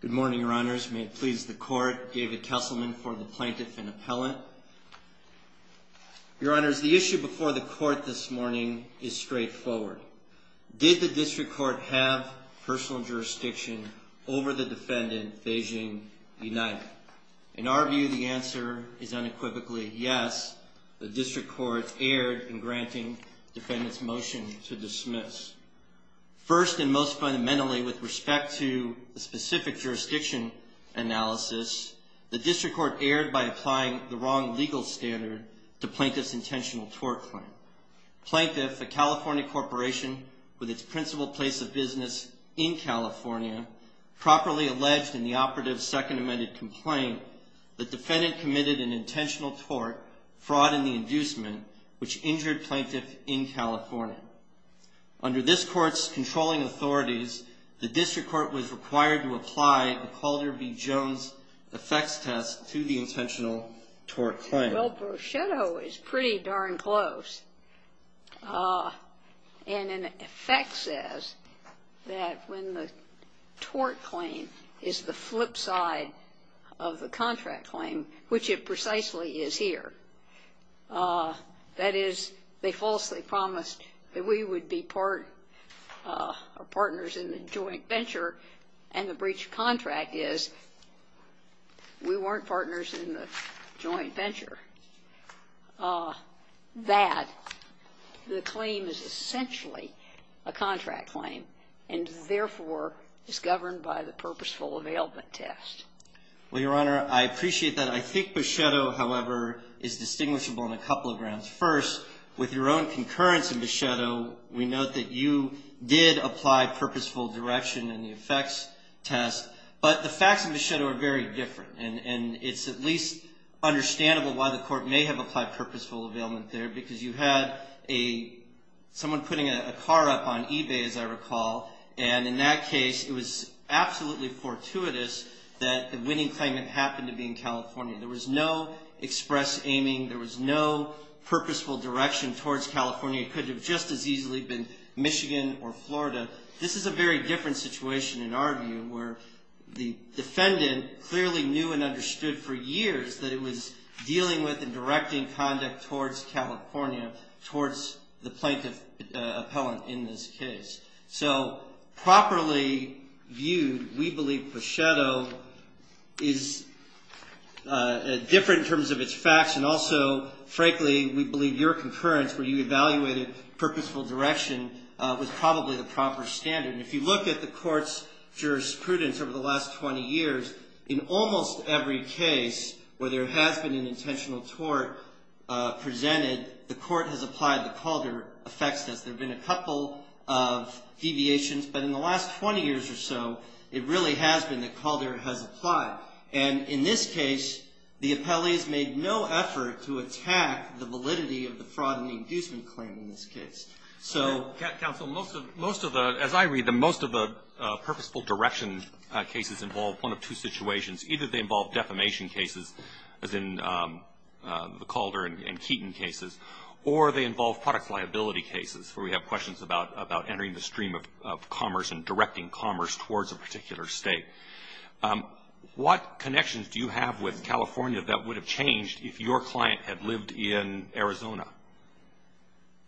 Good morning, Your Honors. May it please the Court, David Kesselman for the Plaintiff and Appellant. Your Honors, the issue before the Court this morning is straightforward. Did the District Court have personal jurisdiction over the defendant, Beijing B. Knight? In our view, the answer is unequivocally yes. The District Court erred in granting the defendant's motion to dismiss. First and most fundamentally with respect to the specific jurisdiction analysis, the District Court erred by applying the wrong legal standard to Plaintiff's intentional tort claim. Plaintiff, a California corporation with its principal place of business in California, properly alleged in the operative's Second Amendment complaint that defendant committed an intentional tort, fraud in the inducement, which injured Plaintiff in California. Under this Court's controlling authorities, the District Court was required to apply the Calder v. Jones effects test to the intentional tort claim. Well, brochetto is pretty darn close. And an effect says that when the tort claim is the flip side of the contract claim, which it precisely is here, that is, they falsely promised that we would be partners in the joint venture, and the breach of contract is we weren't partners in the joint venture, that the claim is essentially a contract claim and, therefore, is governed by the purposeful availment test. Well, Your Honor, I appreciate that. I think brochetto, however, is distinguishable on a couple of grounds. First, with your own concurrence in brochetto, we note that you did apply purposeful direction in the effects test, but the facts in brochetto are very different, and it's at least understandable why the Court may have applied purposeful availment there, because you had someone putting a car up on eBay, as I recall, and in that case, it was absolutely fortuitous that the winning claim had happened to be in California. There was no express aiming. There was no purposeful direction towards California. It could have just as easily been Michigan or Florida. This is a very different situation, in our view, where the defendant clearly knew and understood for years that it was dealing with and directing conduct towards California, towards the plaintiff appellant in this case. So properly viewed, we believe brochetto is different in terms of its facts, and also, frankly, we believe your concurrence, where you evaluated purposeful direction, was probably the proper standard. And if you look at the Court's jurisprudence over the last 20 years, in almost every case where there has been an intentional tort presented, the Court has applied the Calder effects test. There have been a couple of deviations, but in the last 20 years or so, it really has been that Calder has applied. And in this case, the appellee has made no effort to attack the validity of the fraud and the inducement claim in this case. So as I read them, most of the purposeful direction cases involve one of two situations. Either they involve defamation cases, as in the Calder and Keaton cases, or they involve products liability cases, where we have questions about entering the stream of commerce and directing commerce towards a particular state. What connections do you have with California that would have changed if your client had lived in Arizona?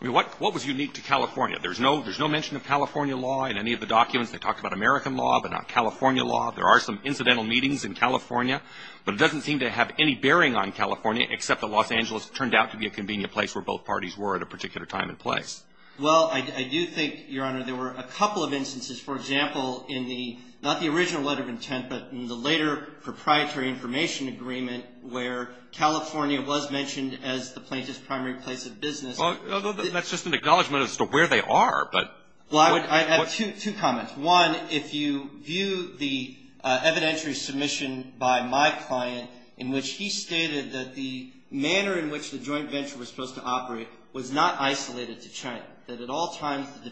I mean, what was unique to California? There's no mention of California law in any of the documents. They talk about American law, but not California law. There are some incidental meetings in California, but it doesn't seem to have any bearing on California, except that Los Angeles turned out to be a convenient place where both parties were at a particular time and place. Well, I do think, Your Honor, there were a couple of instances. For example, in the ‑‑ not the original letter of intent, but in the later proprietary information agreement where California was mentioned as the plaintiff's primary place of business. Well, that's just an acknowledgment as to where they are, but ‑‑ Well, I have two comments. One, if you view the evidentiary submission by my client in which he stated that the manner in which the joint venture was supposed to operate was not isolated to China, that at all times the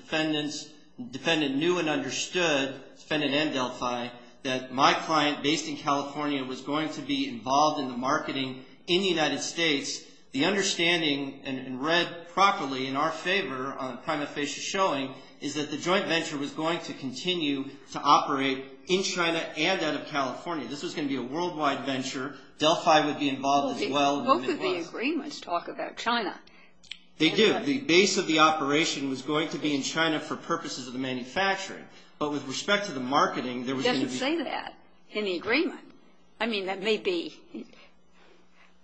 defendant knew and understood, defendant and Delphi, that my client, based in California, was going to be involved in the marketing in the United States, the understanding read properly in our favor on prima facie showing is that the joint venture was going to continue to operate in China and out of California. This was going to be a worldwide venture. Delphi would be involved as well. Both of the agreements talk about China. They do. The base of the operation was going to be in China for purposes of the manufacturing. But with respect to the marketing, there was going to be ‑‑ It doesn't say that in the agreement. I mean, that may be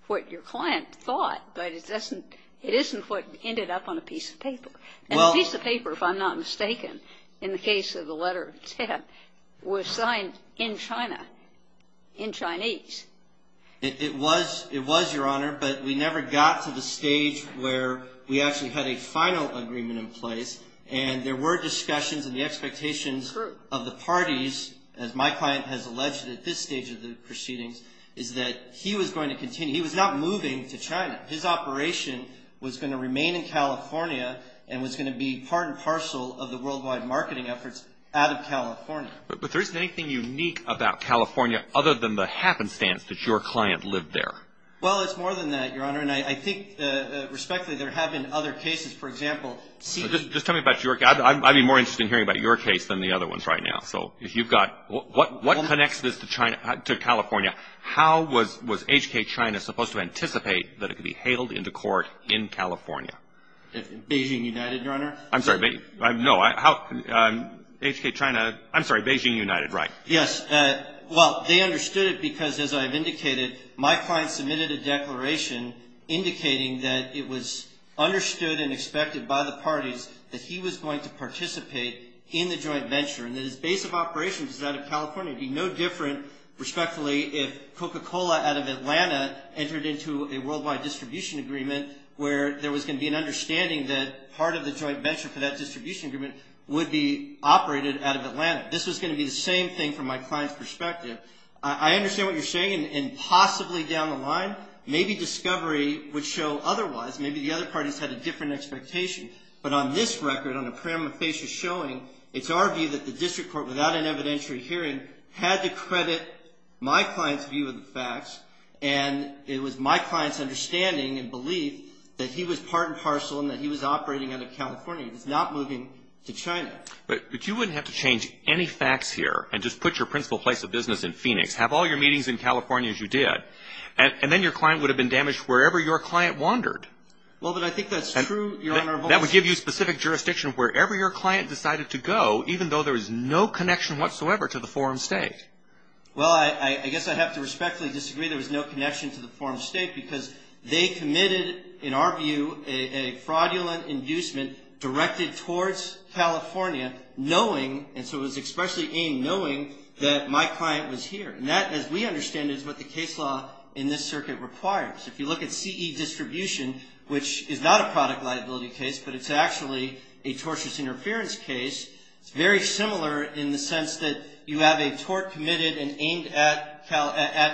what your client thought, but it isn't what ended up on a piece of paper. And the piece of paper, if I'm not mistaken, in the case of the letter of intent, was signed in China, in Chinese. It was, Your Honor, but we never got to the stage where we actually had a final agreement in place, and there were discussions and the expectations of the parties, as my client has alleged at this stage of the proceedings, is that he was going to continue. He was not moving to China. His operation was going to remain in California and was going to be part and parcel of the worldwide marketing efforts out of California. But there isn't anything unique about California other than the happenstance that your client lived there. Well, it's more than that, Your Honor, and I think, respectfully, there have been other cases. For example ‑‑ Just tell me about your case. I'd be more interested in hearing about your case than the other ones right now. So if you've got ‑‑ What connects this to California? How was HK China supposed to anticipate that it could be hailed into court in California? Beijing United, Your Honor. I'm sorry. HK China ‑‑ I'm sorry, Beijing United, right. Yes. Well, they understood it because, as I have indicated, my client submitted a declaration indicating that it was understood and expected by the parties that he was going to participate in the joint venture and that his base of operations was out of California. It would be no different, respectfully, if Coca-Cola out of Atlanta entered into a worldwide distribution agreement where there was going to be an understanding that part of the joint venture for that distribution agreement would be operated out of Atlanta. This was going to be the same thing from my client's perspective. I understand what you're saying, and possibly down the line, maybe discovery would show otherwise. Maybe the other parties had a different expectation. But on this record, on the parameter face you're showing, it's our view that the district court, without an evidentiary hearing, had to credit my client's view of the facts, and it was my client's understanding and belief that he was part and parcel and that he was operating out of California. He was not moving to China. But you wouldn't have to change any facts here and just put your principal place of business in Phoenix, have all your meetings in California as you did, and then your client would have been damaged wherever your client wandered. Well, but I think that's true, Your Honor. That would give you specific jurisdiction wherever your client decided to go, even though there was no connection whatsoever to the forum state. Well, I guess I'd have to respectfully disagree. There was no connection to the forum state because they committed, in our view, a fraudulent inducement directed towards California, knowing, and so it was especially aimed knowing that my client was here. And that, as we understand it, is what the case law in this circuit requires. If you look at CE distribution, which is not a product liability case, but it's actually a tortious interference case, it's very similar in the sense that you have a tort committed and aimed at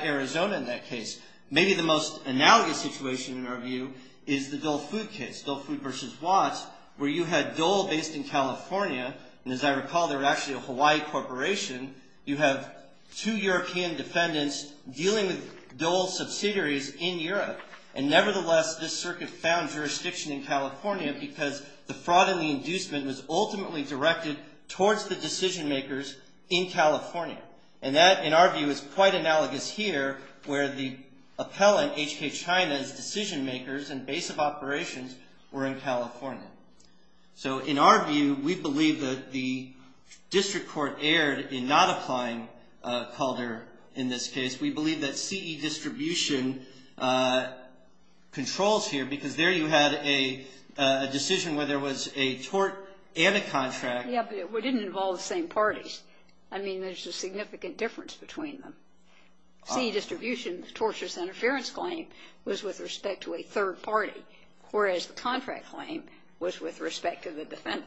Arizona in that case. Maybe the most analogous situation, in our view, is the Dole Food case, Dole Food versus Watts, where you had Dole based in California, and as I recall, they were actually a Hawaii corporation. You have two European defendants dealing with Dole subsidiaries in Europe, and nevertheless, this circuit found jurisdiction in California because the fraud and the inducement was ultimately directed towards the decision makers in California. And that, in our view, is quite analogous here where the appellant, H.K. China's decision makers and base of operations were in California. So in our view, we believe that the district court erred in not applying Calder in this case. We believe that CE distribution controls here because there you had a decision where there was a tort and a contract. Yeah, but it didn't involve the same parties. I mean, there's a significant difference between them. CE distribution, the tortious interference claim, was with respect to a third party, whereas the contract claim was with respect to the defendant.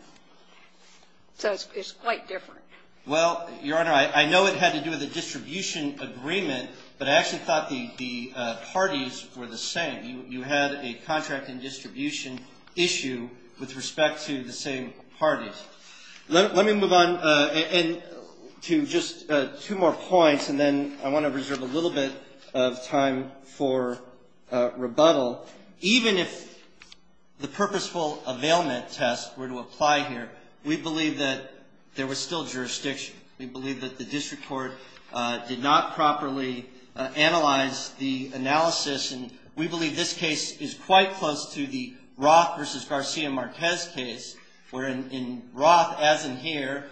So it's quite different. Well, Your Honor, I know it had to do with a distribution agreement, but I actually thought the parties were the same. You had a contract and distribution issue with respect to the same parties. Let me move on to just two more points and then I want to reserve a little bit of time for rebuttal. Even if the purposeful availment test were to apply here, we believe that there was still jurisdiction. We believe that the district court did not properly analyze the analysis and we believe this case is quite close to the Roth versus Garcia Marquez case where in Roth, as in here,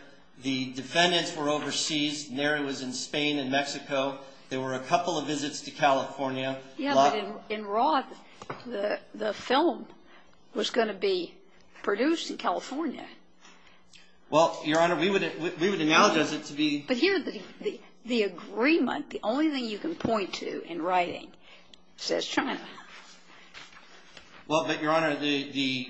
the defendants were overseas and there it was in Spain and Mexico. There were a couple of visits to California. Yeah, but in Roth, the film was going to be produced in California. Well, Your Honor, we would analogize it to be... But here the agreement, the only thing you can point to in writing, says China. Well, but Your Honor, the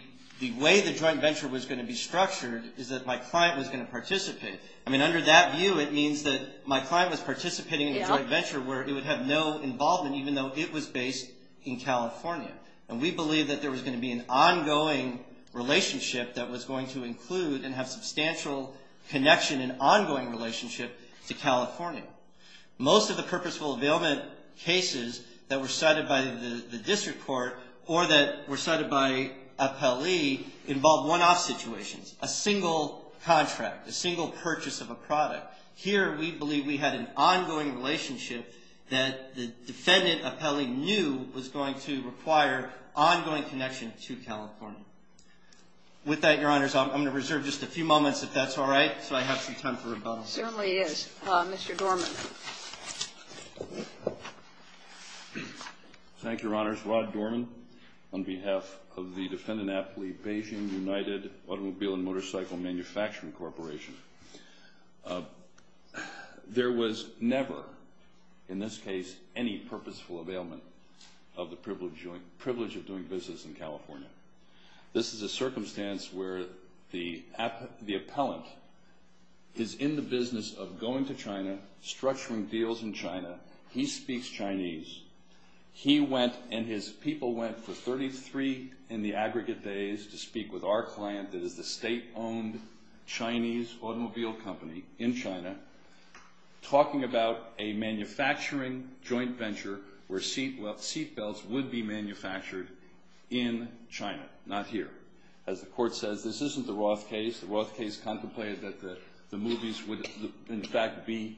way the joint venture was going to be structured is that my client was going to participate. I mean, under that view, it means that my client was participating in the joint venture where it would have no involvement even though it was based in California and we believe that there was going to be an ongoing relationship that was going to include and have substantial connection and ongoing relationship to California. Most of the purposeful availment cases that were cited by the district court or that were cited by appellee involved one-off situations. A single contract, a single purchase of a product. Here we believe we had an ongoing relationship that the defendant appellee knew was going to require ongoing connection to California. With that, Your Honors, I'm going to reserve just a few moments, if that's all right, so I have some time for rebuttal. Certainly is. Mr. Dorman. Thank you, Your Honors. Rod Dorman, on behalf of the defendant appellee, the Beijing United Automobile and Motorcycle Manufacturing Corporation, there was never, in this case, any purposeful availment of the privilege of doing business in California. This is a circumstance where the appellant is in the business of going to China, structuring deals in China. He speaks Chinese. He went and his people went for 33 in the aggregate days to speak with our client, that is the state-owned Chinese automobile company in China, talking about a manufacturing joint venture where seat belts would be manufactured in China, not here. As the court says, this isn't the Roth case. The Roth case contemplated that the movies would, in fact, be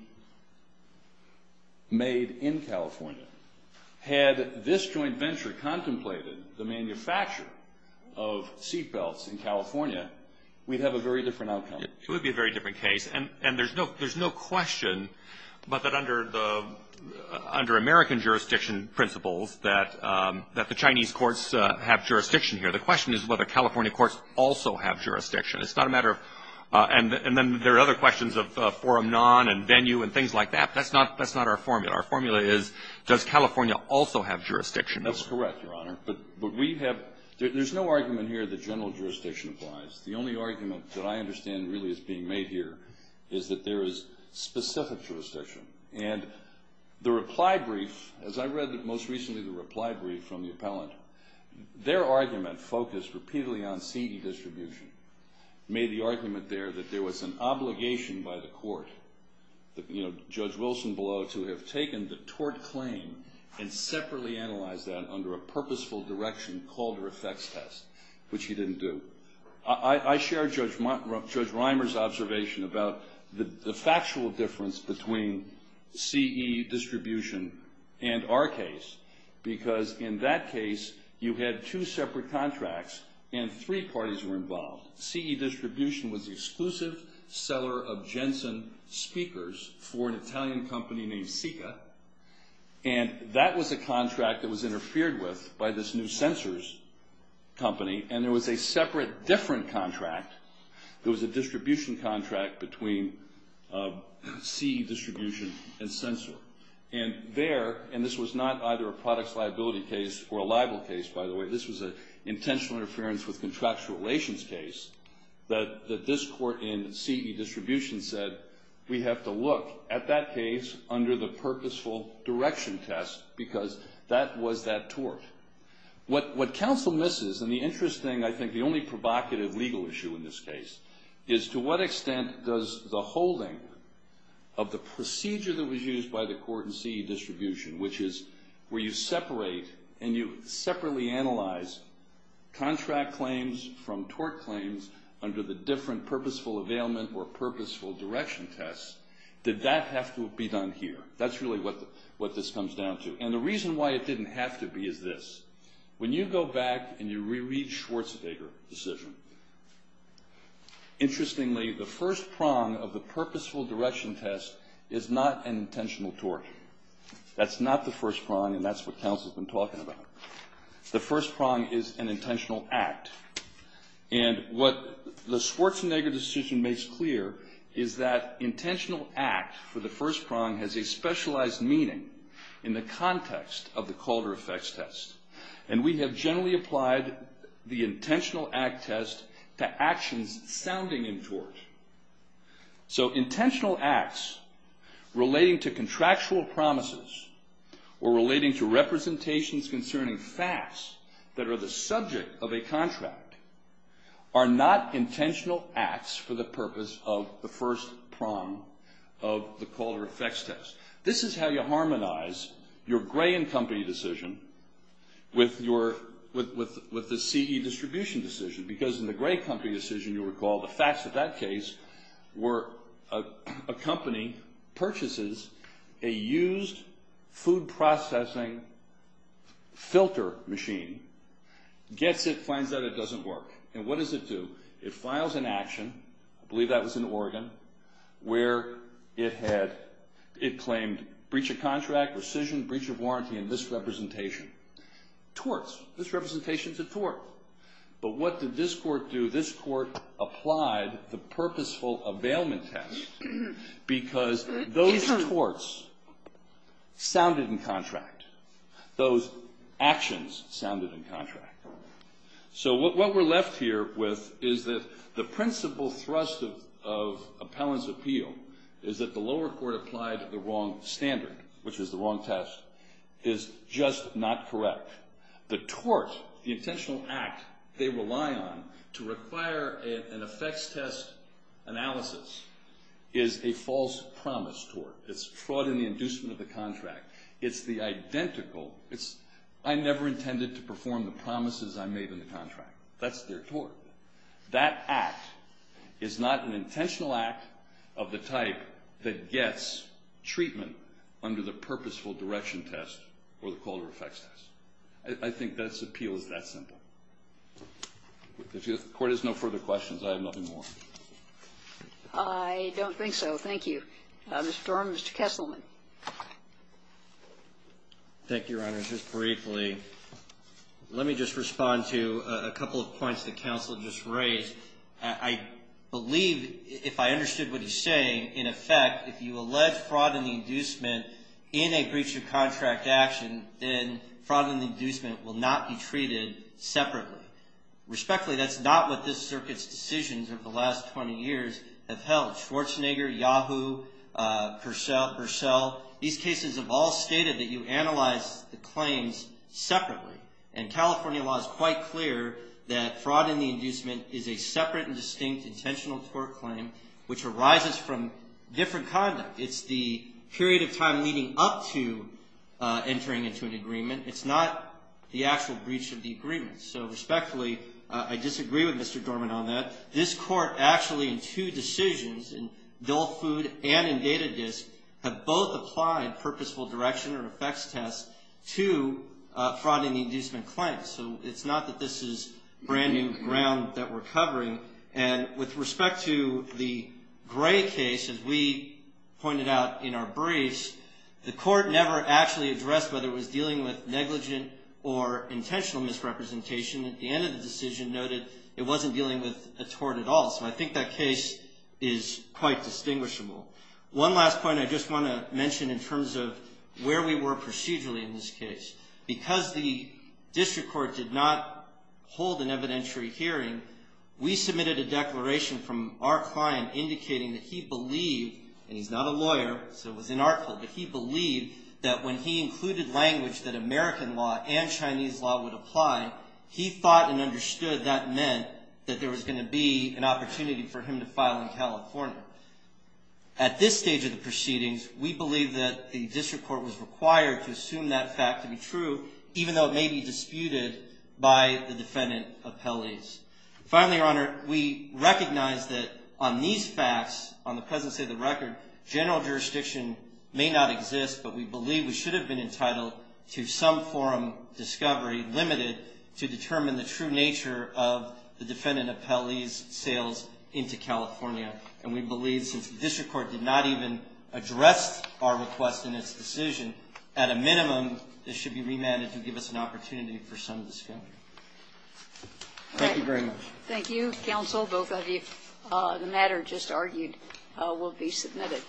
made in California. Had this joint venture contemplated the manufacture of seat belts in California, we'd have a very different outcome. It would be a very different case. And there's no question that under American jurisdiction principles that the Chinese courts have jurisdiction here. The question is whether California courts also have jurisdiction. It's not a matter of... And then there are other questions of forum non and venue and things like that. That's not our formula. Our formula is, does California also have jurisdiction? That's correct, Your Honor. But we have... There's no argument here that general jurisdiction applies. The only argument that I understand really is being made here is that there is specific jurisdiction. And the reply brief, as I read most recently the reply brief from the appellant, their argument focused repeatedly on seat distribution. Made the argument there that there was an obligation by the court, Judge Wilson below, to have taken the tort claim and separately analyze that under a purposeful direction called her effects test. Which he didn't do. I share Judge Reimer's observation about the factual difference between CE distribution and our case. Because in that case, you had two separate contracts and three parties were involved. CE distribution was the exclusive seller of Jensen speakers for an Italian company named Sika. And that was a contract that was interfered with by this new sensors company. And there was a separate different contract. There was a distribution contract between CE distribution and sensor. And there, and this was not either a products liability case or a libel case, by the way. This was an intentional interference with contractual relations case. That this court in CE distribution said, we have to look at that case under the purposeful direction test because that was that tort. What counsel misses, and the interesting, I think the only provocative legal issue in this case, is to what extent does the holding of the procedure that was used by the court in CE distribution, which is where you separate and you separately analyze contract claims from tort claims under the different purposeful or purposeful direction tests, did that have to be done here? That's really what this comes down to. And the reason why it didn't have to be is this. When you go back and you reread Schwarzenegger decision, interestingly, the first prong of the purposeful direction test is not an intentional tort. That's not the first prong, and that's what counsel has been talking about. The first prong is an intentional act. And what the Schwarzenegger decision makes clear is that intentional act for the first prong has a specialized meaning in the context of the Calder effects test. And we have generally applied the intentional act test to actions sounding in tort. So intentional acts relating to contractual promises or relating to representations concerning facts that are the subject of a contract are not intentional acts for the purpose of the first prong of the Calder effects test. This is how you harmonize your Gray and company decision with the CE distribution decision because in the Gray company decision, you recall the facts of that case were a company purchases a used food processing filter machine, gets it, finds out it doesn't work. And what does it do? It files an action. I believe that was in Oregon where it claimed breach of contract, rescission, breach of warranty, and misrepresentation. Torts. Misrepresentation's a tort. But what did this court do? This court applied the purposeful availment test because those torts sounded in contract. Those actions sounded in contract. So what we're left here with is that the principle thrust of appellant's appeal is that the lower court applied the wrong standard, which is the wrong test, is just not correct. The tort, the intentional act they rely on to require an effects test analysis is a false promise tort. It's fraud in the inducement of the contract. It's the identical. I never intended to perform the promises I made in the contract. That's their tort. That act is not an intentional act of the type that gets treatment under the purposeful direction test or the call to effects test. I think that's appeal is that simple. If the court has no further questions, I have nothing more. I don't think so. Thank you. Mr. Durham, Mr. Kesselman. Thank you, Your Honor. Just briefly, let me just respond to a couple of points the counsel just raised. I believe, if I understood what he's saying, in effect, if you allege fraud in the inducement in a breach of contract action, then fraud in the inducement will not be treated separately. Respectfully, that's not what this circuit's decisions over the last 20 years have held. Schwarzenegger, Yahoo, Purcell. These cases have all stated that you analyze the claims separately. And California law is quite clear that fraud in the inducement is a separate and distinct intentional tort claim which arises from different conduct. It's the period of time leading up to entering into an agreement. It's not the actual breach of the agreement. So, respectfully, I disagree with Mr. Dorman on that. This court, actually, in two decisions, in dull food and in data disk, have both applied purposeful direction to fraud in the inducement claim. So, it's not that this is brand new ground that we're covering. And with respect to the Gray case, as we pointed out in our briefs, the court never actually addressed whether it was dealing with negligent or intentional misrepresentation. At the end of the decision noted, it wasn't dealing with a tort at all. So, I think that case is quite distinguishable. One last point I just want to mention in terms of where we were procedurally in this case. Because the district court did not hold an evidentiary hearing, we submitted a declaration from our client indicating that he believed, and he's not a lawyer, so it was in our court, but he believed that when he included language that American law and Chinese law would apply, he thought and understood that meant that there was going to be an opportunity for him to file in California. At this stage of the proceedings, we believe that the district court was required to assume that fact to be true, even though it may be disputed by the defendant appellees. Finally, Your Honor, we recognize that on these facts, on the presence of the record, general jurisdiction may not exist, but we believe we should have been entitled to some forum discovery, limited to determine the true nature of the defendant appellee's sales into California. And we believe since the district court did not even address our request in its decision, at a minimum, this should be remanded to give us an opportunity for some discovery. Thank you very much. Thank you, counsel. Both of you. The matter just argued will be submitted.